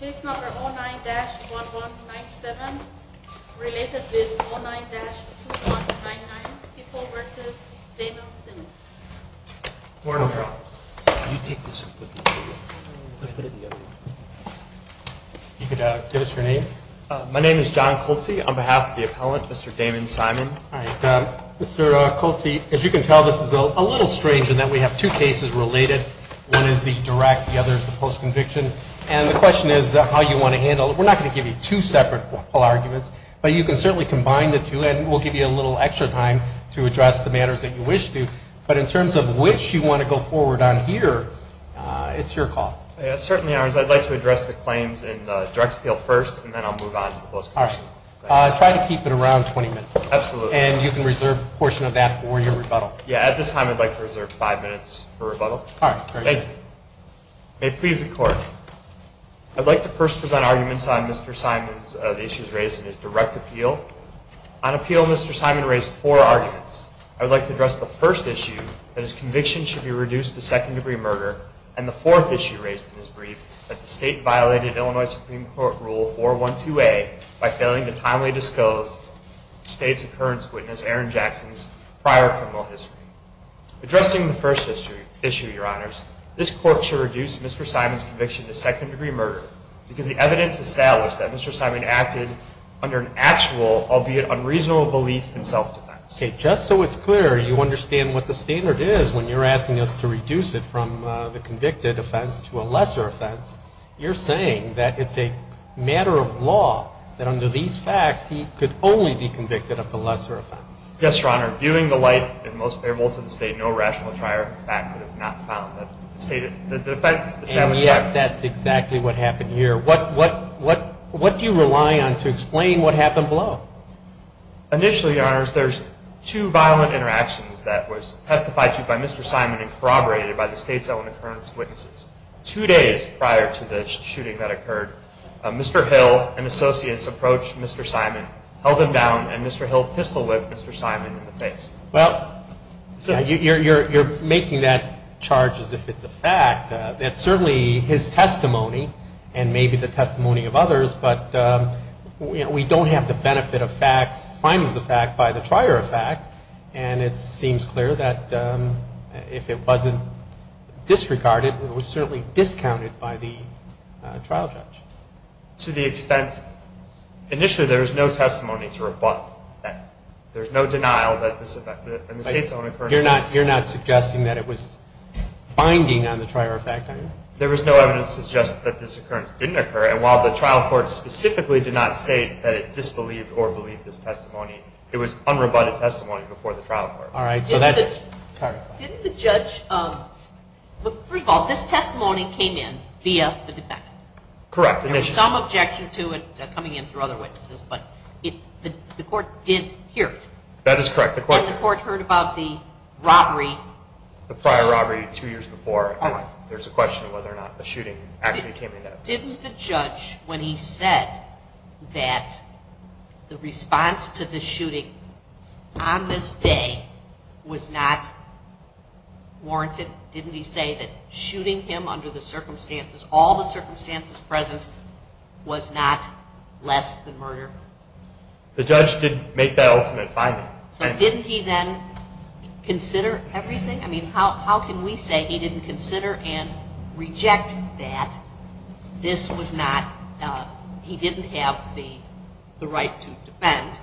Case number 09-1197, related with 09-2199, Pippo v. Damon-Simon. My name is John Coltsy on behalf of the appellant, Mr. Damon-Simon. Mr. Coltsy, as you can tell, this is a little strange in that we have two cases related. One is the direct, the other is the post-conviction. And the question is how you want to handle it. We're not going to give you two separate oral arguments, but you can certainly combine the two, and we'll give you a little extra time to address the matters that you wish to. But in terms of which you want to go forward on here, it's your call. Certainly ours. I'd like to address the claims in the direct appeal first, and then I'll move on to the post-conviction. All right. Try to keep it around 20 minutes. Absolutely. And you can reserve a portion of that for your rebuttal. Yeah, at this time I'd like to reserve five minutes for rebuttal. All right. Thank you. May it please the Court, I'd like to first present arguments on Mr. Simon's issues raised in his direct appeal. On appeal, Mr. Simon raised four arguments. I would like to address the first issue, that his conviction should be reduced to second-degree murder, and the fourth issue raised in his brief, that the state violated Illinois Supreme Court Rule 412A by failing to timely disclose the state's occurrence witness, Aaron Jackson's, prior criminal history. Addressing the first issue, Your Honors, this Court should reduce Mr. Simon's conviction to second-degree murder because the evidence established that Mr. Simon acted under an actual, albeit unreasonable, belief in self-defense. Okay. Just so it's clear you understand what the standard is when you're asking us to reduce it from the convicted offense to a lesser offense, you're saying that it's a matter of law that under these facts, he could only be convicted of the lesser offense. Yes, Your Honor. Viewing the light and most favorable to the state, no rational trier of fact could have not found that the state, that the defense established prior. And yet that's exactly what happened here. What do you rely on to explain what happened below? Initially, Your Honors, there's two violent interactions that was testified to by Mr. Simon and corroborated by the state's own occurrence witnesses. Two days prior to the shooting that occurred, Mr. Hill and associates approached Mr. Simon, held him down, and Mr. Hill pistol-whipped Mr. Simon in the face. Well, you're making that charge as if it's a fact. That's certainly his testimony and maybe the testimony of others, but we don't have the benefit of facts finding the fact by the trier of fact, and it seems clear that if it wasn't disregarded, it was certainly discounted by the trial judge. To the extent, initially there was no testimony to rebut that. There's no denial that this affected it. You're not suggesting that it was binding on the trier of fact, are you? There was no evidence to suggest that this occurrence didn't occur, and while the trial court specifically did not state that it disbelieved or believed this testimony, it was unrebutted testimony before the trial court. All right. Didn't the judge – first of all, this testimony came in via the defendant. Correct. There was some objection to it coming in through other witnesses, but the court didn't hear it. That is correct. And the court heard about the robbery. The prior robbery two years before. All right. There's a question of whether or not the shooting actually came in. Didn't the judge, when he said that the response to the shooting on this day was not warranted, didn't he say that shooting him under the circumstances, all the circumstances present, was not less than murder? The judge didn't make that ultimate finding. So didn't he then consider everything? I mean, how can we say he didn't consider and reject that this was not – he didn't have the right to defend,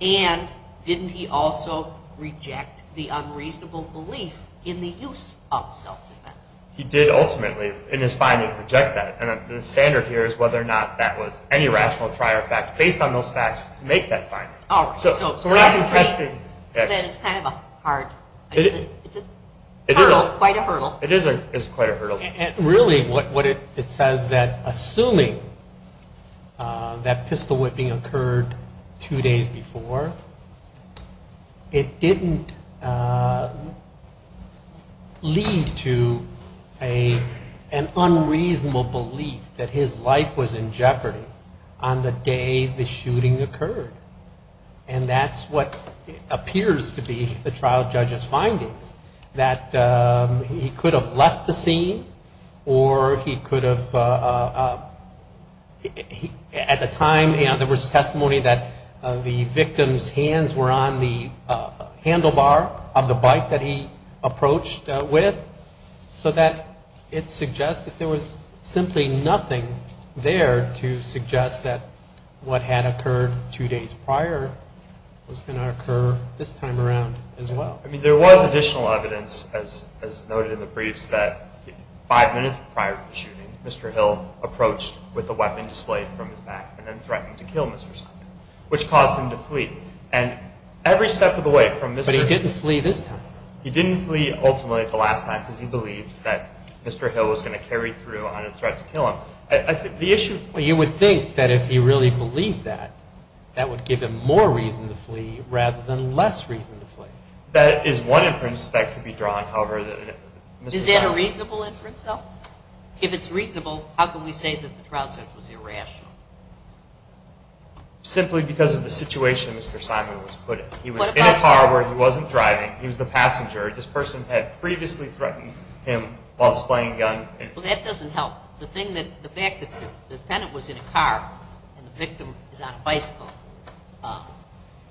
and didn't he also reject the unreasonable belief in the use of self-defense? He did ultimately, in his finding, reject that. And the standard here is whether or not that was any rational trier of fact. Based on those facts, make that finding. All right. So we're not contesting X. That is kind of a hard – it's a hurdle, quite a hurdle. It is quite a hurdle. Really, what it says that assuming that pistol whipping occurred two days before, it didn't lead to an unreasonable belief that his life was in jeopardy on the day the shooting occurred. And that's what appears to be the trial judge's findings. That he could have left the scene, or he could have – at the time, there was testimony that the victim's hands were on the handlebar of the bike that he approached with, so that it suggests that there was simply nothing there to suggest that what had occurred two days prior was going to occur this time around as well. I mean, there was additional evidence, as noted in the briefs, that five minutes prior to the shooting, Mr. Hill approached with a weapon displayed from his back and then threatened to kill Mr. Simon, which caused him to flee. And every step of the way from Mr. – But he didn't flee this time. He didn't flee, ultimately, the last time, because he believed that Mr. Hill was going to carry through on his threat to kill him. The issue – Well, you would think that if he really believed that, that would give him more reason to flee rather than less reason to flee. That is one inference that could be drawn. However, Mr. Simon – Is that a reasonable inference, though? If it's reasonable, how can we say that the trial judge was irrational? Simply because of the situation Mr. Simon was put in. He was in a car where he wasn't driving. He was the passenger. This person had previously threatened him while displaying a gun. Well, that doesn't help. The fact that the defendant was in a car and the victim is on a bicycle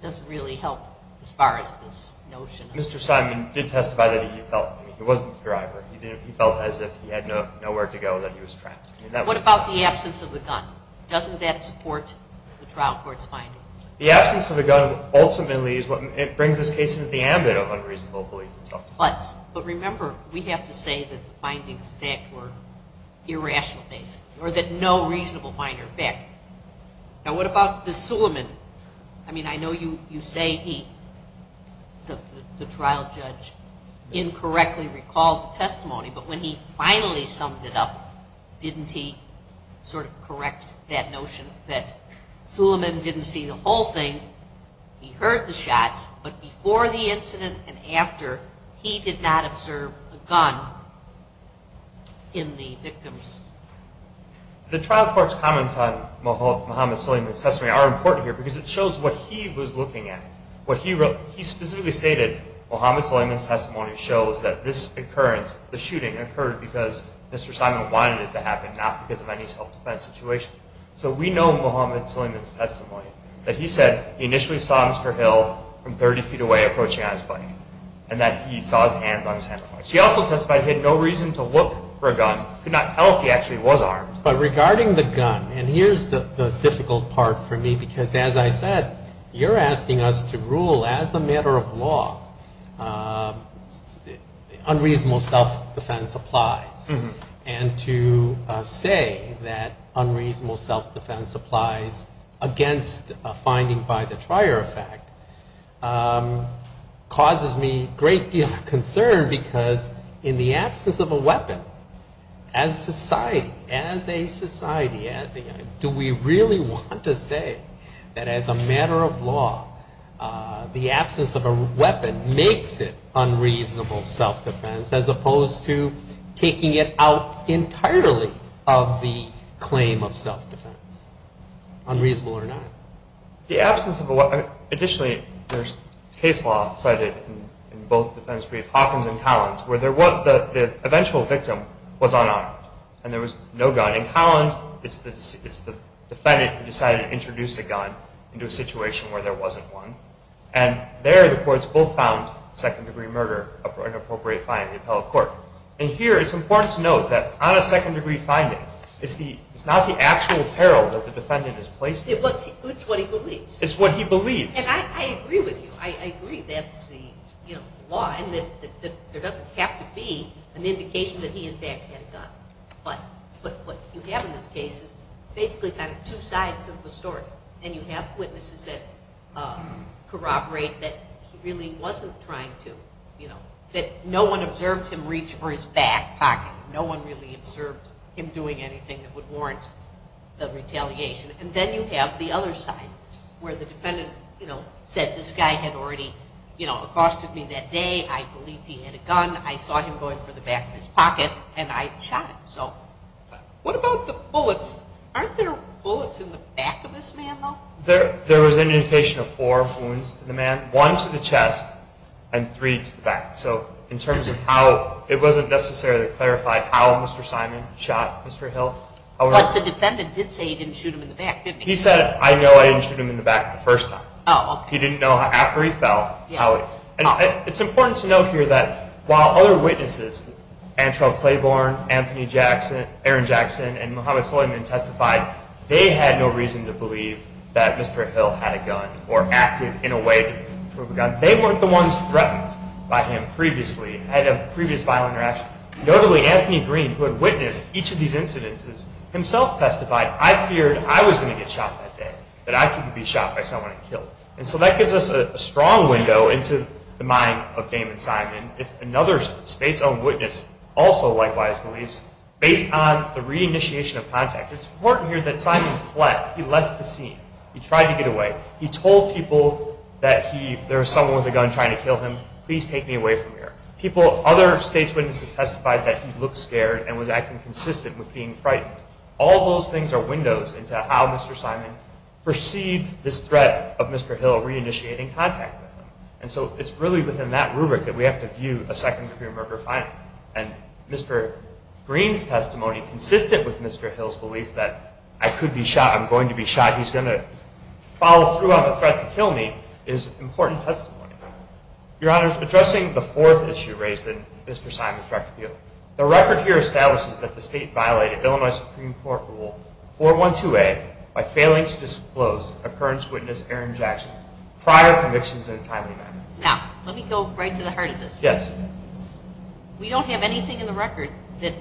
doesn't really help as far as this notion of – Mr. Simon did testify that he felt – I mean, he wasn't the driver. He felt as if he had nowhere to go and that he was trapped. What about the absence of the gun? Doesn't that support the trial court's finding? The absence of the gun ultimately is what brings this case into the ambit of unreasonable belief in self-defense. But remember, we have to say that the findings of that were irrational, basically, or that no reasonable finder of fact. Now, what about the Suleiman? I mean, I know you say he, the trial judge, incorrectly recalled the testimony, but when he finally summed it up, didn't he sort of correct that notion that Suleiman didn't see the whole thing, he heard the shots, but before the incident and after, he did not observe a gun in the victims? The trial court's comments on Mohamed Suleiman's testimony are important here because it shows what he was looking at. He specifically stated Mohamed Suleiman's testimony shows that this occurrence, the shooting, occurred because Mr. Simon wanted it to happen, not because of any self-defense situation. So we know Mohamed Suleiman's testimony, that he said he initially saw Mr. Hill from 30 feet away approaching on his bike, and that he saw his hands on his hand. He also testified he had no reason to look for a gun, could not tell if he actually was armed. But regarding the gun, and here's the difficult part for me, because as I said, you're asking us to rule as a matter of law unreasonable self-defense applies, and to say that unreasonable self-defense applies against a finding by the trier effect causes me a great deal of concern because in the absence of a weapon, as a society, do we really want to say that as a matter of law the absence of a weapon makes it out entirely of the claim of self-defense, unreasonable or not? The absence of a weapon, additionally, there's case law cited in both the defense brief, Hawkins and Collins, where the eventual victim was unarmed, and there was no gun. In Collins, it's the defendant who decided to introduce a gun into a situation where there wasn't one, and there the courts both found second-degree murder an appropriate finding of the appellate court. And here it's important to note that on a second-degree finding, it's not the actual apparel that the defendant has placed there. It's what he believes. It's what he believes. And I agree with you. I agree that's the law and that there doesn't have to be an indication that he in fact had a gun. But what you have in this case is basically kind of two sides of the story, and you have witnesses that corroborate that he really wasn't trying to, you know, that no one observed him reach for his back pocket. No one really observed him doing anything that would warrant the retaliation. And then you have the other side where the defendant, you know, said this guy had already, you know, accosted me that day. I believed he had a gun. I saw him going for the back of his pocket, and I shot him. So what about the bullets? Aren't there bullets in the back of this man, though? There was an indication of four wounds to the man, one to the chest and three to the back. So in terms of how it wasn't necessarily clarified how Mr. Simon shot Mr. Hill. But the defendant did say he didn't shoot him in the back, didn't he? He said, I know I didn't shoot him in the back the first time. Oh, okay. He didn't know after he fell. And it's important to note here that while other witnesses, Antrell Claiborne, Anthony Jackson, Aaron Jackson, and Muhammad Soyman testified, they had no reason to believe that Mr. Hill had a gun or acted in a way to prove a gun. They weren't the ones threatened by him previously, had a previous violent reaction. Notably, Anthony Green, who had witnessed each of these incidences, himself testified, I feared I was going to get shot that day, that I couldn't be shot by someone and killed. And so that gives us a strong window into the mind of Damon Simon. If another state's own witness also likewise believes, based on the reinitiation of contact, it's important here that Simon fled. He left the scene. He tried to get away. He told people that there was someone with a gun trying to kill him. Please take me away from here. Other state's witnesses testified that he looked scared and was acting consistent with being frightened. All those things are windows into how Mr. Simon perceived this threat of Mr. Hill reinitiating contact with him. And so it's really within that rubric that we have to view a second degree murder finding. And Mr. Green's testimony, consistent with Mr. Hill's belief that I could be shot, I'm going to be shot, he's going to follow through on the threat to kill me, is important testimony. Your Honor, addressing the fourth issue raised in Mr. Simon's record to you, the record here establishes that the state violated Illinois Supreme Court Rule 412A by failing to disclose a current witness, Aaron Jackson's, prior convictions in a timely manner. Now, let me go right to the heart of this. Yes. We don't have anything in the record that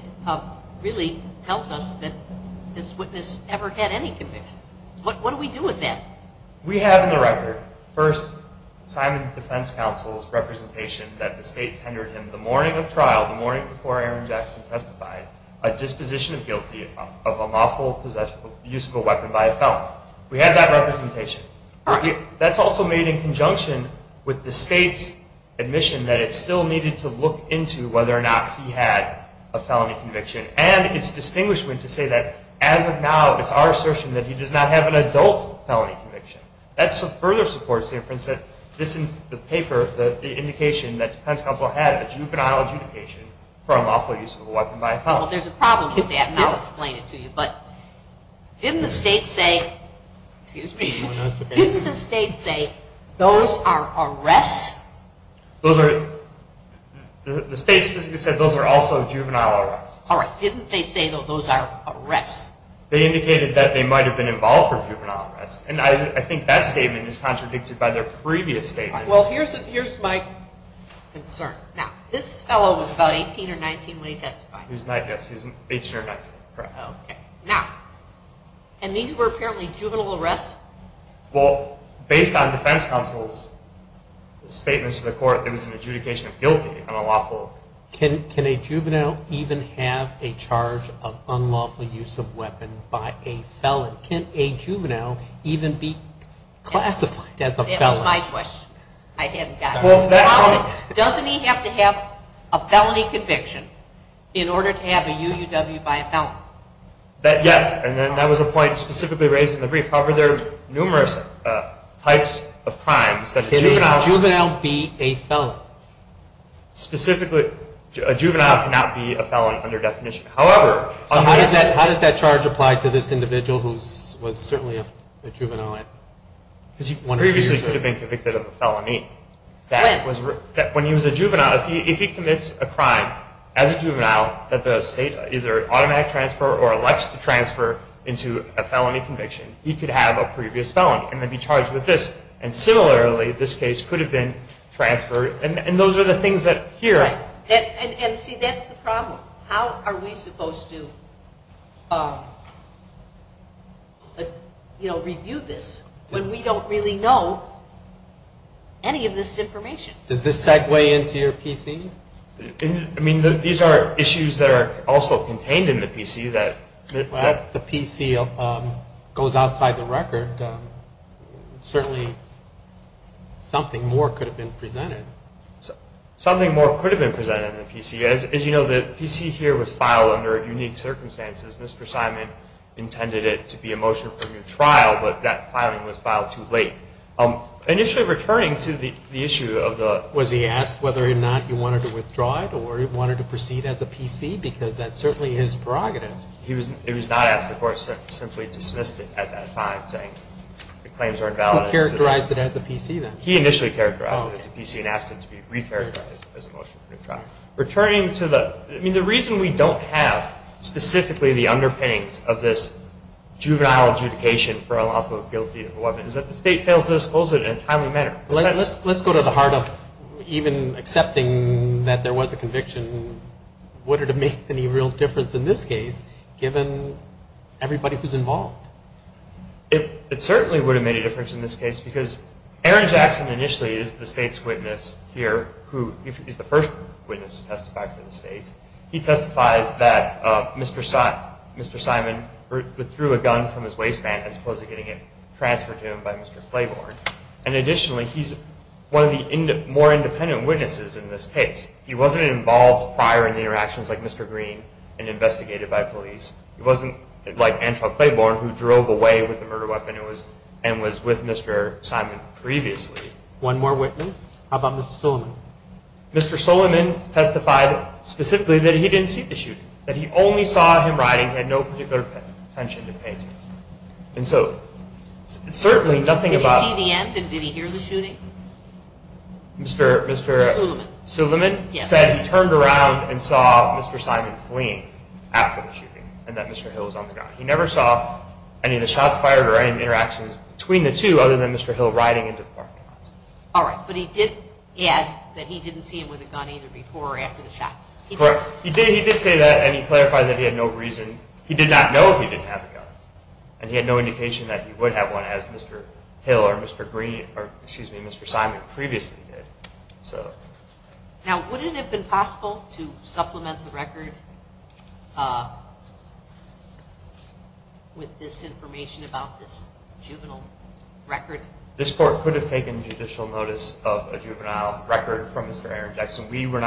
really tells us that this witness ever had any convictions. What do we do with that? We have in the record, first, Simon's defense counsel's representation that the state tendered him the morning of trial, the morning before Aaron Jackson testified, a disposition of guilty of a lawful use of a weapon by a felon. We have that representation. That's also made in conjunction with the state's admission that it still needed to look into whether or not he had a felony conviction. And it's distinguishment to say that as of now, it's our assertion that he does not have an adult felony conviction. That further supports the inference that this in the paper, the indication that defense counsel had a juvenile adjudication for a lawful use of a weapon by a felon. Well, there's a problem with that, and I'll explain it to you. But didn't the state say those are arrests? The state specifically said those are also juvenile arrests. All right. Didn't they say those are arrests? They indicated that they might have been involved for juvenile arrests. And I think that statement is contradicted by their previous statement. All right. Well, here's my concern. Now, this fellow was about 18 or 19 when he testified. He was 19, yes. He was 18 or 19, correct. Okay. Now, and these were apparently juvenile arrests? Well, based on defense counsel's statements to the court, it was an adjudication of guilty on a lawful. Can a juvenile even have a charge of unlawful use of weapon by a felon? Can a juvenile even be classified as a felon? That's my question. I haven't got it. Doesn't he have to have a felony conviction in order to have a UUW by a felon? Yes. And then that was a point specifically raised in the brief. However, there are numerous types of crimes. Can a juvenile be a felon? Specifically, a juvenile cannot be a felon under definition. How does that charge apply to this individual who was certainly a juvenile? Because he previously could have been convicted of a felony. When? When he was a juvenile. If he commits a crime as a juvenile that the state either automatic transfer or elects to transfer into a felony conviction, he could have a previous felony and then be charged with this. And similarly, this case could have been transferred. And those are the things that here. Right. And, see, that's the problem. How are we supposed to, you know, review this when we don't really know any of this information? Does this segue into your PC? I mean, these are issues that are also contained in the PC. If the PC goes outside the record, certainly something more could have been presented. As you know, the PC here was filed under unique circumstances. Mr. Simon intended it to be a motion for new trial, but that filing was filed too late. Initially, returning to the issue of the- Was he asked whether or not he wanted to withdraw it or he wanted to proceed as a PC? Because that's certainly his prerogative. He was not asked. The court simply dismissed it at that time, saying the claims are invalid. Who characterized it as a PC then? He initially characterized it as a PC and asked it to be re-characterized as a motion for new trial. Returning to the- I mean, the reason we don't have specifically the underpinnings of this juvenile adjudication for unlawful guilty of a weapon is that the state failed to disclose it in a timely manner. Let's go to the heart of even accepting that there was a conviction. Would it have made any real difference in this case, given everybody who's involved? It certainly would have made a difference in this case, because Aaron Jackson initially is the state's witness here. He's the first witness to testify for the state. He testifies that Mr. Simon withdrew a gun from his waistband as opposed to getting it transferred to him by Mr. Claiborne. Additionally, he's one of the more independent witnesses in this case. He wasn't involved prior in the interactions like Mr. Green and investigated by police. He wasn't like Angela Claiborne who drove away with the murder weapon and was with Mr. Simon previously. One more witness. How about Mr. Suleman? Mr. Suleman testified specifically that he didn't see the shooting, that he only saw him riding and had no particular intention to pay attention. And so certainly nothing about- Did he see the end and did he hear the shooting? Mr. Suleman said he turned around and saw Mr. Simon fleeing after the shooting. And that Mr. Hill was on the ground. He never saw any of the shots fired or any interactions between the two other than Mr. Hill riding into the parking lot. All right, but he did add that he didn't see him with a gun either before or after the shots. Correct. He did say that and he clarified that he had no reason- he did not know if he didn't have a gun. And he had no indication that he would have one as Mr. Hill or Mr. Green- or excuse me, Mr. Simon previously did. Now, would it have been possible to supplement the record with this information about this juvenile record? This court could have taken judicial notice of a juvenile record from Mr. Aaron Jackson. We could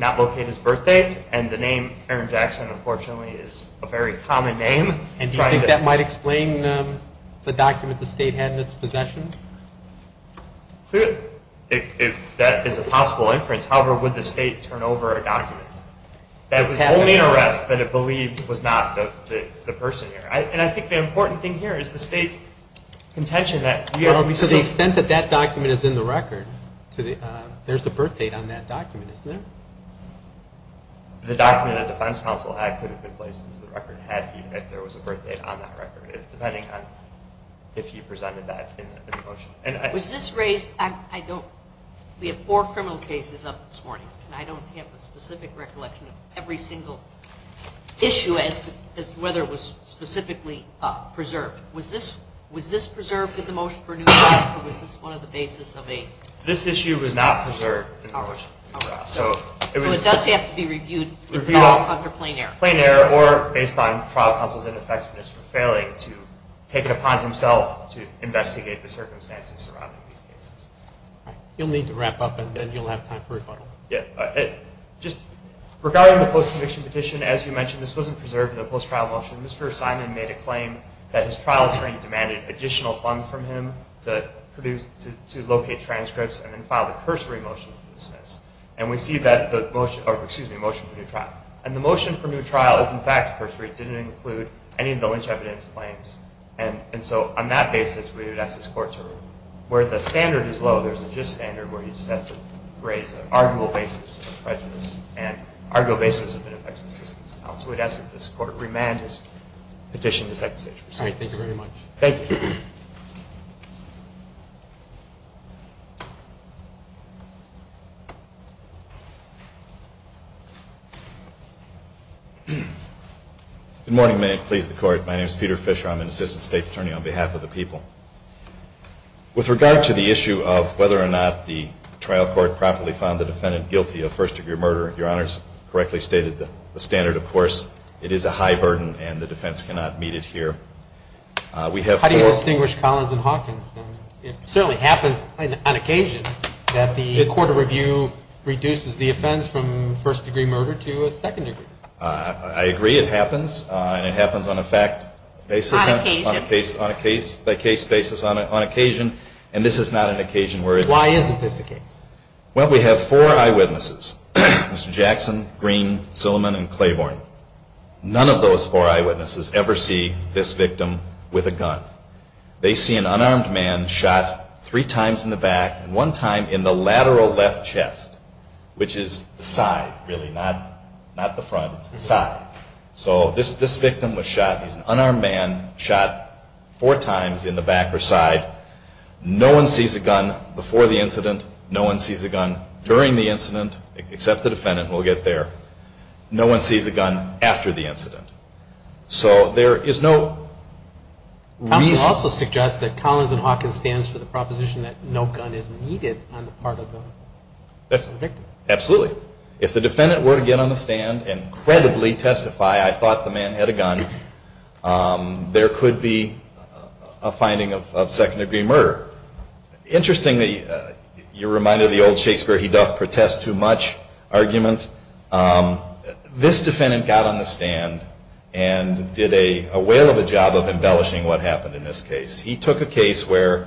not locate his birth date and the name Aaron Jackson, unfortunately, is a very common name. And do you think that might explain the document the state had in its possession? Clearly, if that is a possible inference. However, would the state turn over a document that was only an arrest that it believed was not the person here? And I think the important thing here is the state's intention that- Well, because the extent that that document is in the record, there's a birth date on that document, isn't there? The document that the defense counsel had could have been placed into the record had there been a birth date on that record, depending on if you presented that in the motion. Was this raised- we have four criminal cases up this morning, and I don't have a specific recollection of every single issue as to whether it was specifically preserved. Was this preserved in the motion for a new trial, or was this one of the basis of a- This issue was not preserved in the motion for a new trial. So it does have to be reviewed under plain error. Or based on trial counsel's ineffectiveness for failing to take it upon himself to investigate the circumstances surrounding these cases. You'll need to wrap up, and then you'll have time for rebuttal. Just regarding the post-conviction petition, as you mentioned, this wasn't preserved in the post-trial motion. Mr. Simon made a claim that his trial attorney demanded additional funds from him to locate transcripts and then file the cursory motion to dismiss. And we see that the motion for a new trial. And the motion for a new trial is in fact cursory. It didn't include any of the lynch evidence claims. And so on that basis, we would ask this court to review it. Where the standard is low, there's a gist standard where you just have to raise an arguable basis of prejudice and arguable basis of an effective assistance counsel. We'd ask that this court remand his petition to second session. All right. Thank you very much. Thank you. Good morning, may it please the court. My name is Peter Fisher. I'm an assistant state's attorney on behalf of the people. With regard to the issue of whether or not the trial court properly found the defendant guilty of first-degree murder, Your Honors correctly stated the standard. Of course, it is a high burden, and the defense cannot meet it here. How do you distinguish Collins and Hawkins? It certainly happens on occasion that the court of review reduces the offense from first-degree murder to a second-degree murder. I agree it happens, and it happens on a fact basis. On occasion. On a case-by-case basis, on occasion, and this is not an occasion where it is. Why isn't this a case? Well, we have four eyewitnesses, Mr. Jackson, Green, Zillerman, and Claiborne. None of those four eyewitnesses ever see this victim with a gun. They see an unarmed man shot three times in the back and one time in the lateral left chest, which is the side, really, not the front. It's the side. So this victim was shot. He's an unarmed man, shot four times in the back or side. No one sees a gun before the incident. No one sees a gun during the incident, except the defendant. We'll get there. No one sees a gun after the incident. So there is no reason. You also suggest that Collins and Hawkins stands for the proposition that no gun is needed on the part of the victim. Absolutely. If the defendant were to get on the stand and credibly testify, I thought the man had a gun, there could be a finding of second-degree murder. Interestingly, you're reminded of the old Shakespeare, he doth protest too much argument. This defendant got on the stand and did a whale of a job of embellishing what happened in this case. He took a case where,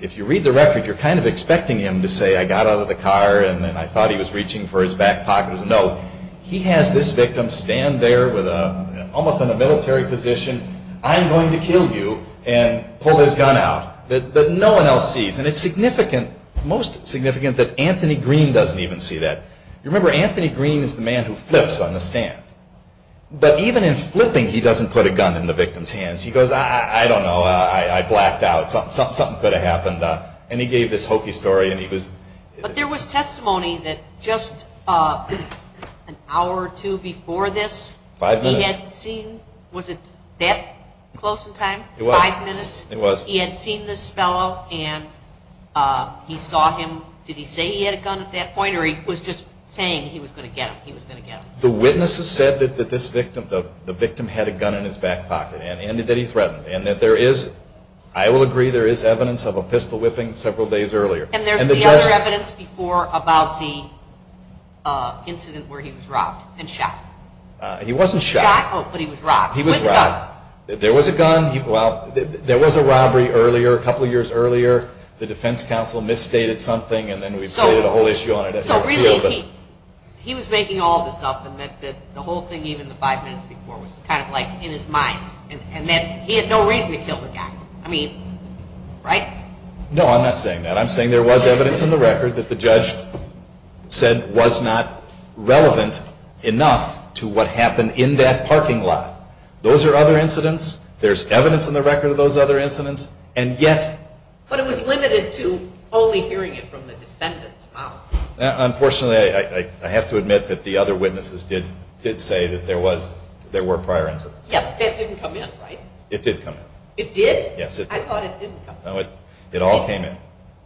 if you read the record, you're kind of expecting him to say, I got out of the car and I thought he was reaching for his back pocket. No, he has this victim stand there almost in a military position, I'm going to kill you, and pull his gun out that no one else sees. And it's significant, most significant, that Anthony Green doesn't even see that. Remember, Anthony Green is the man who flips on the stand. But even in flipping, he doesn't put a gun in the victim's hands. He goes, I don't know, I blacked out, something could have happened. And he gave this hokey story. But there was testimony that just an hour or two before this, he had seen, was it that close in time? It was. He had seen this fellow and he saw him, did he say he had a gun at that point or he was just saying he was going to get him, he was going to get him? The witnesses said that this victim, the victim had a gun in his back pocket and that he threatened and that there is, I will agree, there is evidence of a pistol whipping several days earlier. And there's the other evidence before about the incident where he was robbed and shot. He wasn't shot. Shot, oh, but he was robbed. He was robbed. With a gun. There was a gun, well, there was a robbery earlier, a couple of years earlier, the defense counsel misstated something and then we played a whole issue on it. So really he was making all this up and that the whole thing even the five minutes before was kind of like in his mind and that he had no reason to kill the guy. I mean, right? No, I'm not saying that. I'm saying there was evidence in the record that the judge said was not relevant enough to what happened in that parking lot. Those are other incidents. There's evidence in the record of those other incidents. But it was limited to only hearing it from the defendant's mouth. Unfortunately, I have to admit that the other witnesses did say that there were prior incidents. Yeah, that didn't come in, right? It did come in. It did? Yes, it did. I thought it didn't come in. No, it all came in.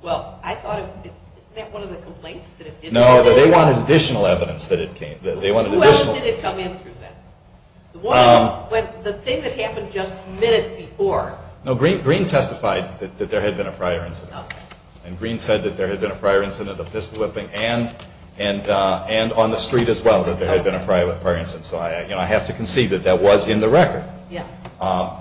Well, isn't that one of the complaints that it didn't come in? No, they wanted additional evidence that it came. Who else did it come in through then? The thing that happened just minutes before. No, Green testified that there had been a prior incident. Okay. And Green said that there had been a prior incident of pistol whipping and on the street as well that there had been a prior incident. So I have to concede that that was in the record. Yeah.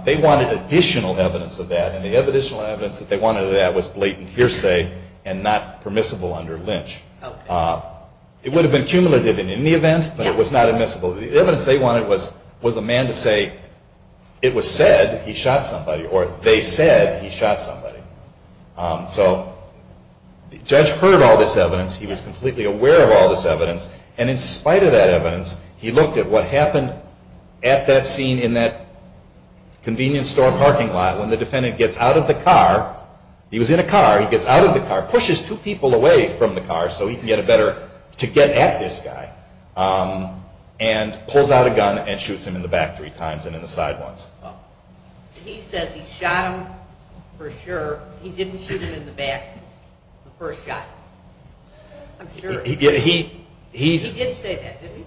They wanted additional evidence of that. And the additional evidence that they wanted of that was blatant hearsay and not permissible under Lynch. Okay. It would have been cumulative in any event, but it was not admissible. The evidence they wanted was a man to say it was said he shot somebody or they said he shot somebody. So the judge heard all this evidence. He was completely aware of all this evidence. And in spite of that evidence, he looked at what happened at that scene in that convenience store parking lot when the defendant gets out of the car. He was in a car. He gets out of the car, pushes two people away from the car so he can get a better to get at this guy, and pulls out a gun and shoots him in the back three times and in the side once. He says he shot him for sure. He didn't shoot him in the back the first shot. I'm sure. He did say that, didn't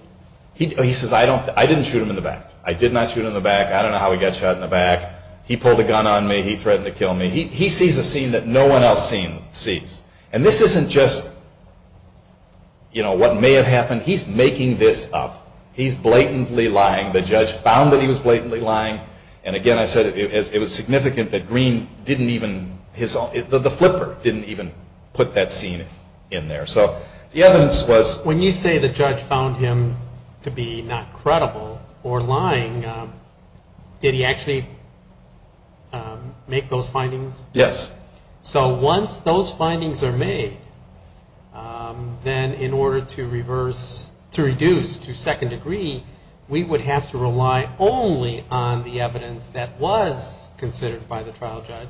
he? He says, I didn't shoot him in the back. I did not shoot him in the back. I don't know how he got shot in the back. He pulled a gun on me. He threatened to kill me. He sees a scene that no one else sees. And this isn't just, you know, what may have happened. He's making this up. He's blatantly lying. The judge found that he was blatantly lying. And, again, I said it was significant that Green didn't even, the flipper didn't even put that scene in there. So the evidence was. When you say the judge found him to be not credible or lying, did he actually make those findings? Yes. So once those findings are made, then in order to reverse, to reduce, to second degree, we would have to rely only on the evidence that was considered by the trial judge.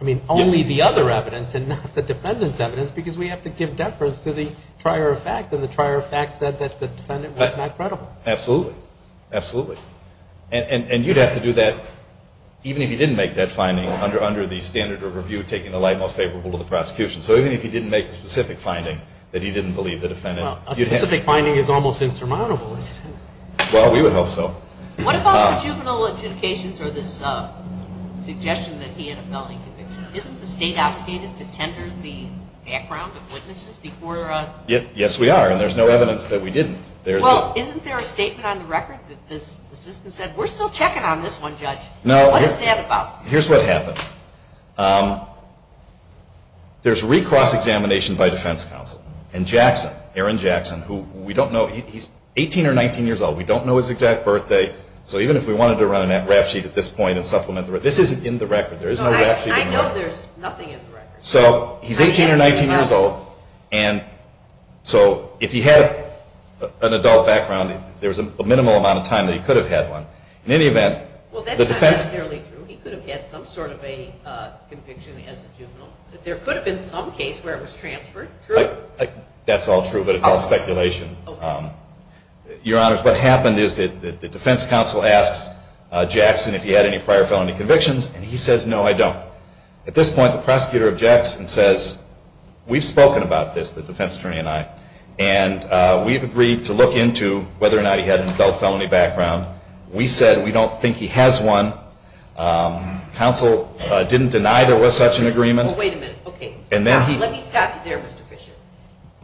I mean, only the other evidence and not the defendant's evidence, because we have to give deference to the trier of fact, and the trier of fact said that the defendant was not credible. Absolutely. Absolutely. And you'd have to do that even if he didn't make that finding under the standard of review, taking the light most favorable to the prosecution. So even if he didn't make a specific finding that he didn't believe the defendant. Well, a specific finding is almost insurmountable, isn't it? Well, we would hope so. What about the juvenile adjudications or this suggestion that he had a felony conviction? Isn't the state obligated to tender the background of witnesses before? Yes, we are. And there's no evidence that we didn't. Well, isn't there a statement on the record that the assistant said, we're still checking on this one, Judge? No. What is that about? Here's what happened. There's recross examination by defense counsel. And Jackson, Aaron Jackson, who we don't know, he's 18 or 19 years old. We don't know his exact birthday. So even if we wanted to run a rap sheet at this point and supplement the record, this isn't in the record. There is no rap sheet in the record. I know there's nothing in the record. So he's 18 or 19 years old. And so if he had an adult background, there was a minimal amount of time that he could have had one. In any event, the defense. Well, that's not necessarily true. He could have had some sort of a conviction as a juvenile. But there could have been some case where it was transferred. True? That's all true, but it's all speculation. Okay. Your Honors, what happened is that the defense counsel asked Jackson if he had any prior felony convictions, and he says, no, I don't. At this point, the prosecutor objects and says, we've spoken about this, the defense attorney and I, and we've agreed to look into whether or not he had an adult felony background. We said we don't think he has one. Counsel didn't deny there was such an agreement. Well, wait a minute. Okay. Let me stop you there, Mr. Fisher.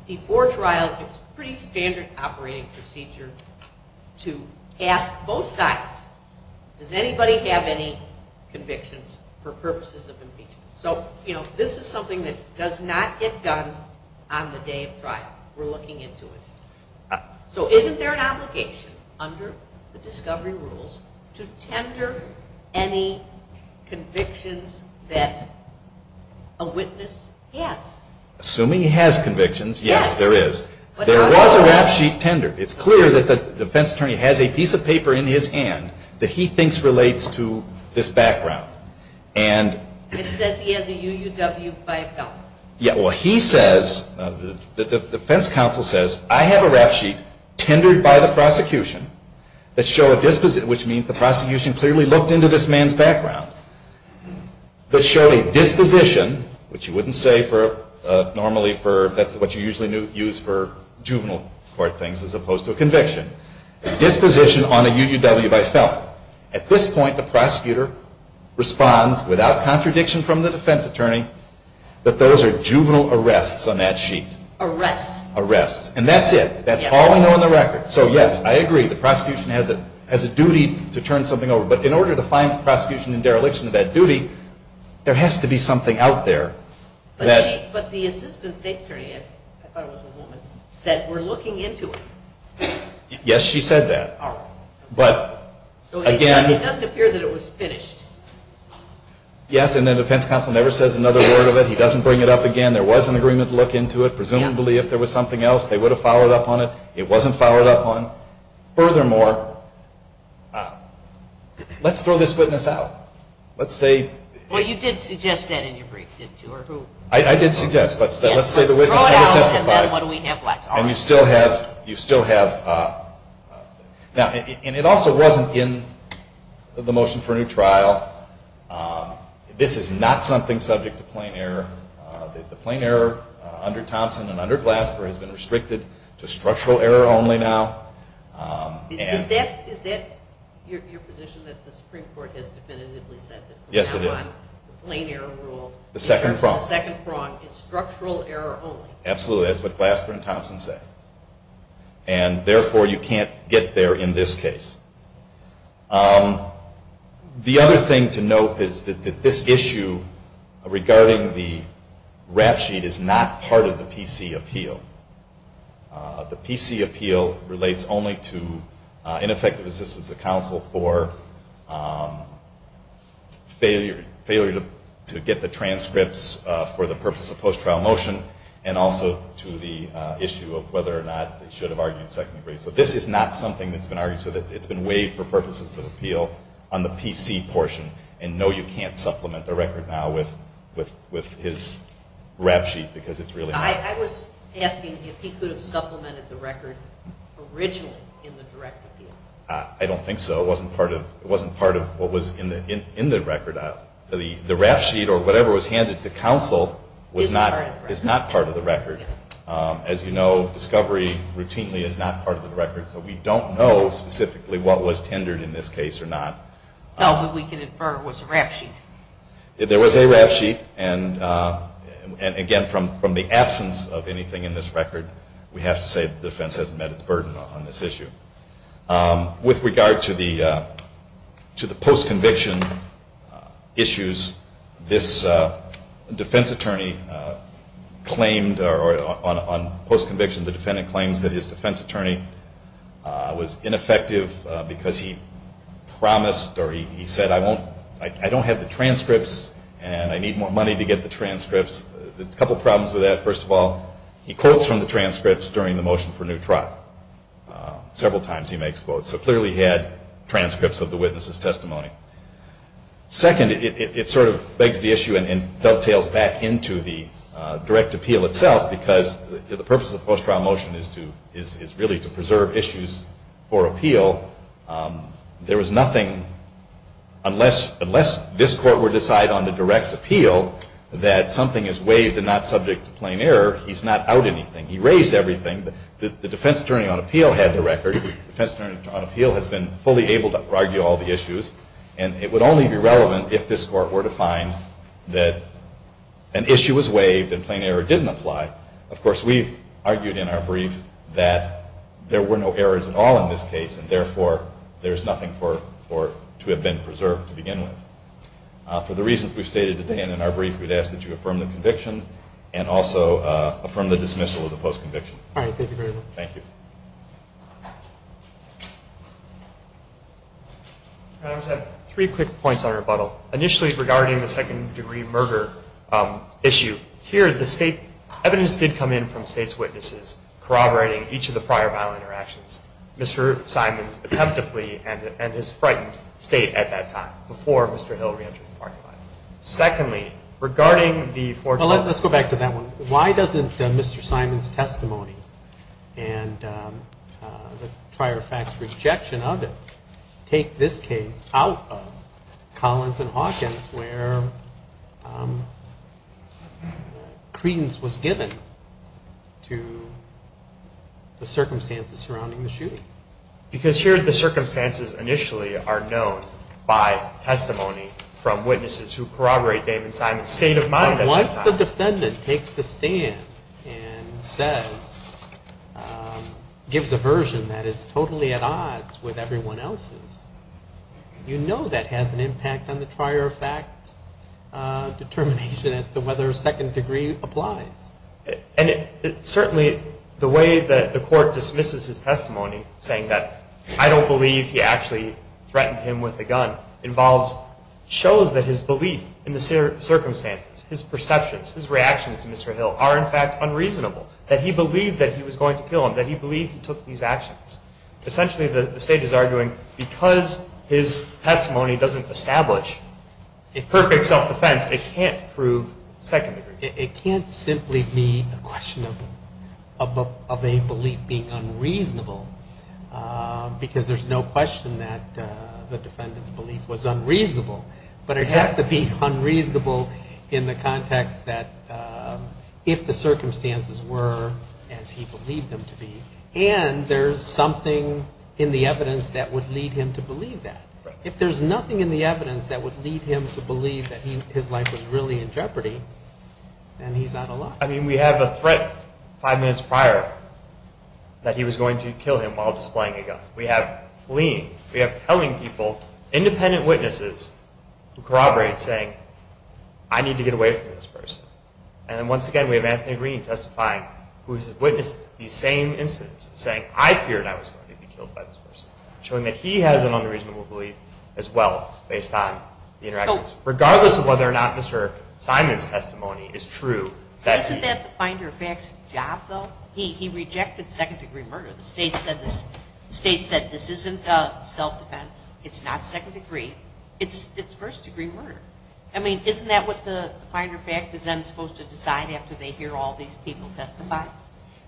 Before trial, it's a pretty standard operating procedure to ask both sides, does anybody have any convictions for purposes of impeachment? So this is something that does not get done on the day of trial. We're looking into it. So isn't there an obligation under the discovery rules to tender any convictions that a witness has? Assuming he has convictions, yes, there is. There was a rap sheet tendered. It's clear that the defense attorney has a piece of paper in his hand that he thinks relates to this background. It says he has a UUW by a felon. Yeah, well, he says, the defense counsel says, I have a rap sheet tendered by the prosecution that show a disposition, which means the prosecution clearly looked into this man's background, that show a disposition, which you wouldn't say normally for, that's what you usually use for opposed to a conviction, disposition on a UUW by felon. At this point, the prosecutor responds without contradiction from the defense attorney that those are juvenile arrests on that sheet. Arrests. Arrests. And that's it. That's all we know on the record. So yes, I agree, the prosecution has a duty to turn something over. But in order to find the prosecution in dereliction of that duty, there has to be something out there. But the assistant state attorney, I thought it was a woman, said we're looking into it. Yes, she said that. All right. But, again. It doesn't appear that it was finished. Yes, and the defense counsel never says another word of it. He doesn't bring it up again. There was an agreement to look into it. Presumably, if there was something else, they would have followed up on it. It wasn't followed up on. Furthermore, let's throw this witness out. Let's say. Well, you did suggest that in your brief, didn't you, or who? I did suggest. Let's say the witness never testified. Yes, let's throw it out, and then what do we have left? And you still have. Now, and it also wasn't in the motion for a new trial. This is not something subject to plain error. The plain error under Thompson and under Glasper has been restricted to structural error only now. Is that your position that the Supreme Court has definitively said that from now on the plain error rule. The second prong. The second prong is structural error only. Absolutely. That's what Glasper and Thompson say. And, therefore, you can't get there in this case. The other thing to note is that this issue regarding the rap sheet is not part of the PC appeal. The PC appeal relates only to ineffective assistance of counsel for failure to get the transcripts for the purpose of post-trial motion and also to the issue of whether or not they should have argued second degree. So this is not something that's been argued. So it's been waived for purposes of appeal on the PC portion. And, no, you can't supplement the record now with his rap sheet because it's really not. I was asking if he could have supplemented the record originally in the direct appeal. I don't think so. It wasn't part of what was in the record. The rap sheet or whatever was handed to counsel is not part of the record. As you know, discovery routinely is not part of the record. So we don't know specifically what was tendered in this case or not. No, but we can infer it was a rap sheet. There was a rap sheet. And, again, from the absence of anything in this record, we have to say the defense hasn't met its burden on this issue. With regard to the post-conviction issues, this defense attorney claimed or on post-conviction the defendant claims that his defense attorney was ineffective because he promised or he said, I don't have the transcripts and I need more money to get the transcripts. A couple problems with that, first of all, he quotes from the transcripts during the motion for new trial. Several times he makes quotes. So clearly he had transcripts of the witness's testimony. Second, it sort of begs the issue and dovetails back into the direct appeal itself because the purpose of post-trial motion is really to preserve issues for appeal. There was nothing, unless this court were to decide on the direct appeal, that something is waived and not subject to plain error. He's not out anything. He raised everything. The defense attorney on appeal had the record. The defense attorney on appeal has been fully able to argue all the issues and it would only be relevant if this court were to find that an issue was waived and plain error didn't apply. Of course, we've argued in our brief that there were no errors at all in this case and, therefore, there's nothing to have been preserved to begin with. For the reasons we've stated today and in our brief, we'd ask that you affirm the conviction and also affirm the dismissal of the post-conviction. All right. Thank you very much. Thank you. I just have three quick points on rebuttal. Initially, regarding the second-degree murder issue, here the state evidence did come in from state's witnesses corroborating each of the prior violent interactions. Mr. Simon's attempt to flee and his frightened state at that time, before Mr. Hill re-entered the parking lot. Secondly, regarding the four-time- Let's go back to that one. Why doesn't Mr. Simon's testimony and the prior facts rejection of it take this case out of Collins and Hawkins where credence was given to the circumstances surrounding the shooting? Because here the circumstances initially are known by testimony from witnesses who corroborate David Simon's state of mind at that time. Once the defendant takes the stand and says, gives a version that is totally at odds with everyone else's, you know that has an impact on the prior fact determination as to whether second-degree applies. Certainly, the way that the court dismisses his testimony, saying that I don't believe he actually threatened him with a gun, shows that his belief in the circumstances, his perceptions, his reactions to Mr. Hill are, in fact, unreasonable, that he believed that he was going to kill him, that he believed he took these actions. Essentially, the state is arguing because his testimony doesn't establish a perfect self-defense, it can't prove second-degree. It can't simply be a question of a belief being unreasonable because there's no question that the defendant's belief was unreasonable, but it has to be unreasonable in the context that if the circumstances were as he believed them to be and there's something in the evidence that would lead him to believe that. If there's nothing in the evidence that would lead him to believe that his life was really in jeopardy, then he's out of luck. I mean, we have a threat five minutes prior that he was going to kill him while displaying a gun. We have fleeing. We have telling people, independent witnesses who corroborate, saying, I need to get away from this person. And then once again, we have Anthony Green testifying, who has witnessed these same incidents, saying, I feared I was going to be killed by this person, showing that he has an unreasonable belief as well based on the interactions, regardless of whether or not Mr. Simon's testimony is true. Isn't that the Finder-Fax job, though? He rejected second-degree murder. The state said this isn't self-defense, it's not second-degree, it's first-degree murder. I mean, isn't that what the Finder-Fax is then supposed to decide after they hear all these people testify?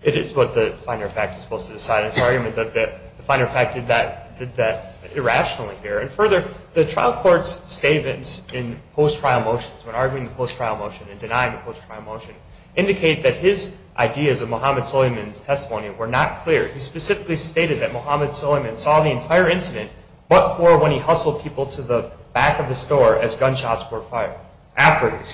It is what the Finder-Fax is supposed to decide. It's an argument that the Finder-Fax did that irrationally here. And further, the trial court's statements in post-trial motions, when arguing the post-trial motion and denying the post-trial motion, indicate that his ideas of Muhammad Suleyman's testimony were not clear. He specifically stated that Muhammad Suleyman saw the entire incident, but for when he hustled people to the back of the store as gunshots were heard.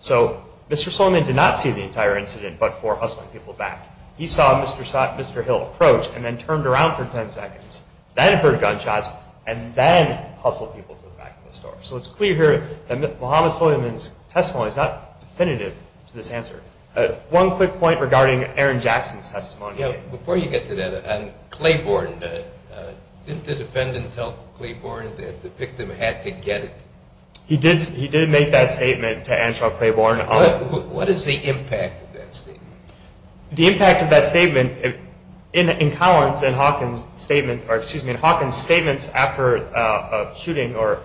So Mr. Suleyman did not see the entire incident, but for hustling people back. He saw Mr. Hill approach and then turned around for 10 seconds, then heard gunshots, and then hustled people to the back of the store. So it's clear here that Muhammad Suleyman's testimony is not definitive to this answer. One quick point regarding Aaron Jackson's testimony. Yeah, before you get to that, on Claiborne, didn't the defendant tell Claiborne that the victim had to get it? He did make that statement to Angela Claiborne. What is the impact of that statement? The impact of that statement in Collins' and Hawkins' statements after a shooting or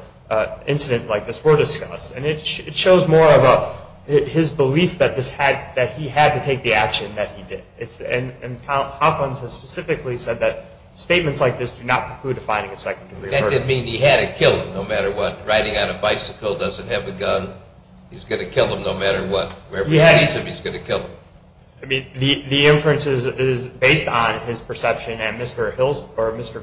incident like this were discussed, and it shows more of his belief that he had to take the action that he did. And Hawkins has specifically said that statements like this do not preclude a finding of second degree murder. That didn't mean he had to kill him no matter what. Riding on a bicycle, doesn't have a gun, he's going to kill him no matter what. Wherever he sees him, he's going to kill him. I mean, the inferences is based on his perception and Mr.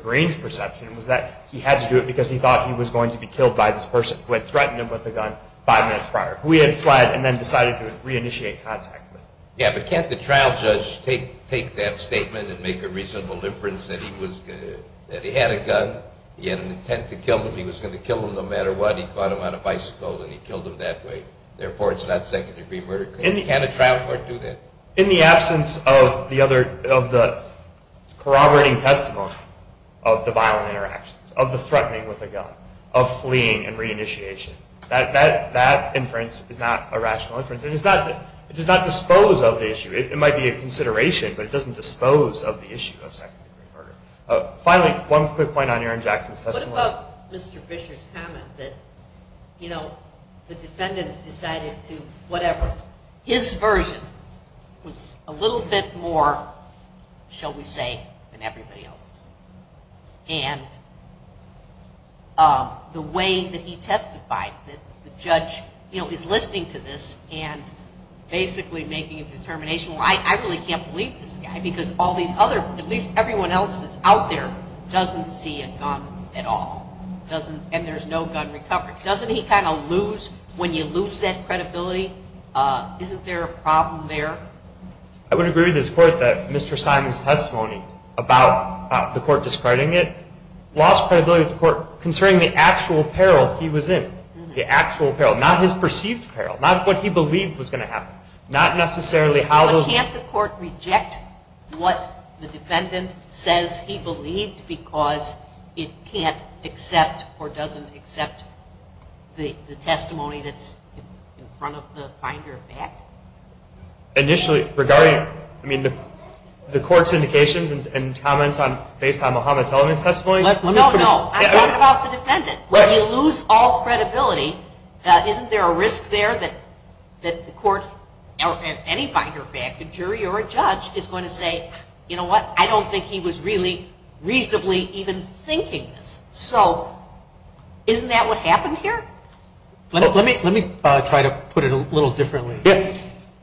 Green's perception was that he had to do it because he thought he was going to be killed by this person who had threatened him with a gun five minutes prior, who he had fled and then decided to reinitiate contact with. Yeah, but can't the trial judge take that statement and make a reasonable inference that he had a gun, he had an intent to kill him, he was going to kill him no matter what, he caught him on a bicycle and he killed him that way. Therefore, it's not second degree murder. Can a trial court do that? In the absence of the corroborating testimony of the violent interactions, of the threatening with a gun, of fleeing and reinitiation, that inference is not a rational inference. It does not dispose of the issue. It might be a consideration, but it doesn't dispose of the issue of second degree murder. Finally, one quick point on Aaron Jackson's testimony. What about Mr. Fisher's comment that the defendant decided to whatever? His version was a little bit more, shall we say, than everybody else. And the way that he testified, that the judge is listening to this and basically making a determination, well, I really can't believe this guy because all these other, at least everyone else that's out there, doesn't see a gun at all. And there's no gun recovery. Doesn't he kind of lose, when you lose that credibility, isn't there a problem there? I would agree with his court that Mr. Simon's testimony about the court discarding it lost credibility with the court concerning the actual peril he was in. The actual peril. Not what he believed was going to happen. Not necessarily how the- But can't the court reject what the defendant says he believed because it can't accept or doesn't accept the testimony that's in front of the finder of fact? Initially, regarding, I mean, the court's indications and comments based on Muhammad Salman's testimony- No, no, I'm talking about the defendant. When you lose all credibility, isn't there a risk there that the court or any finder of fact, a jury or a judge, is going to say, you know what? I don't think he was really reasonably even thinking this. So isn't that what happened here? Let me try to put it a little differently.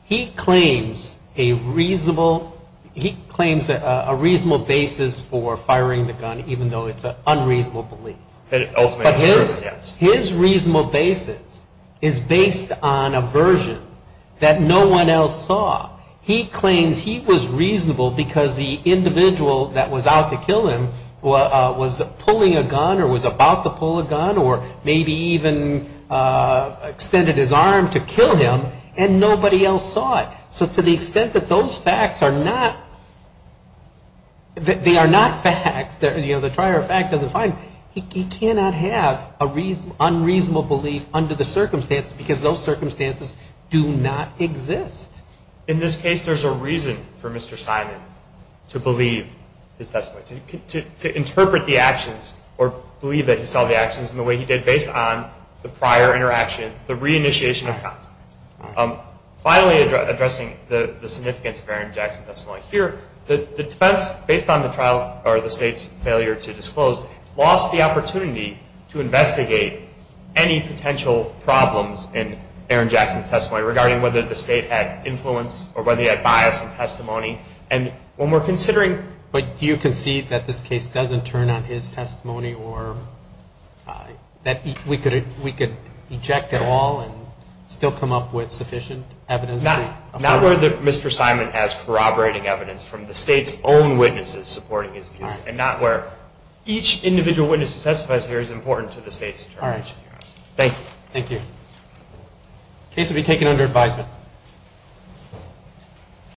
He claims a reasonable basis for firing the gun even though it's an unreasonable belief. But his reasonable basis is based on a version that no one else saw. He claims he was reasonable because the individual that was out to kill him was pulling a gun or was about to pull a gun or maybe even extended his arm to kill him and nobody else saw it. So to the extent that those facts are not, they are not facts, you know, the trier of fact doesn't find, he cannot have an unreasonable belief under the circumstances because those circumstances do not exist. In this case, there's a reason for Mr. Simon to believe his testimony, to interpret the actions or believe that he saw the actions in the way he did based on the prior interaction, the reinitiation of contact. Finally, addressing the significance of Aaron Jackson's testimony here, the defense, based on the trial or the State's failure to disclose, lost the opportunity to investigate any potential problems in Aaron Jackson's testimony regarding whether the State had influence or whether he had bias in testimony. And when we're considering, but you concede that this case doesn't turn on his testimony or that we could eject it all and still come up with sufficient evidence? Not where Mr. Simon has corroborating evidence from the State's own witnesses supporting his views and not where each individual witness who testifies here is important to the State's determination. All right. Thank you. Thank you. Case will be taken under advisement.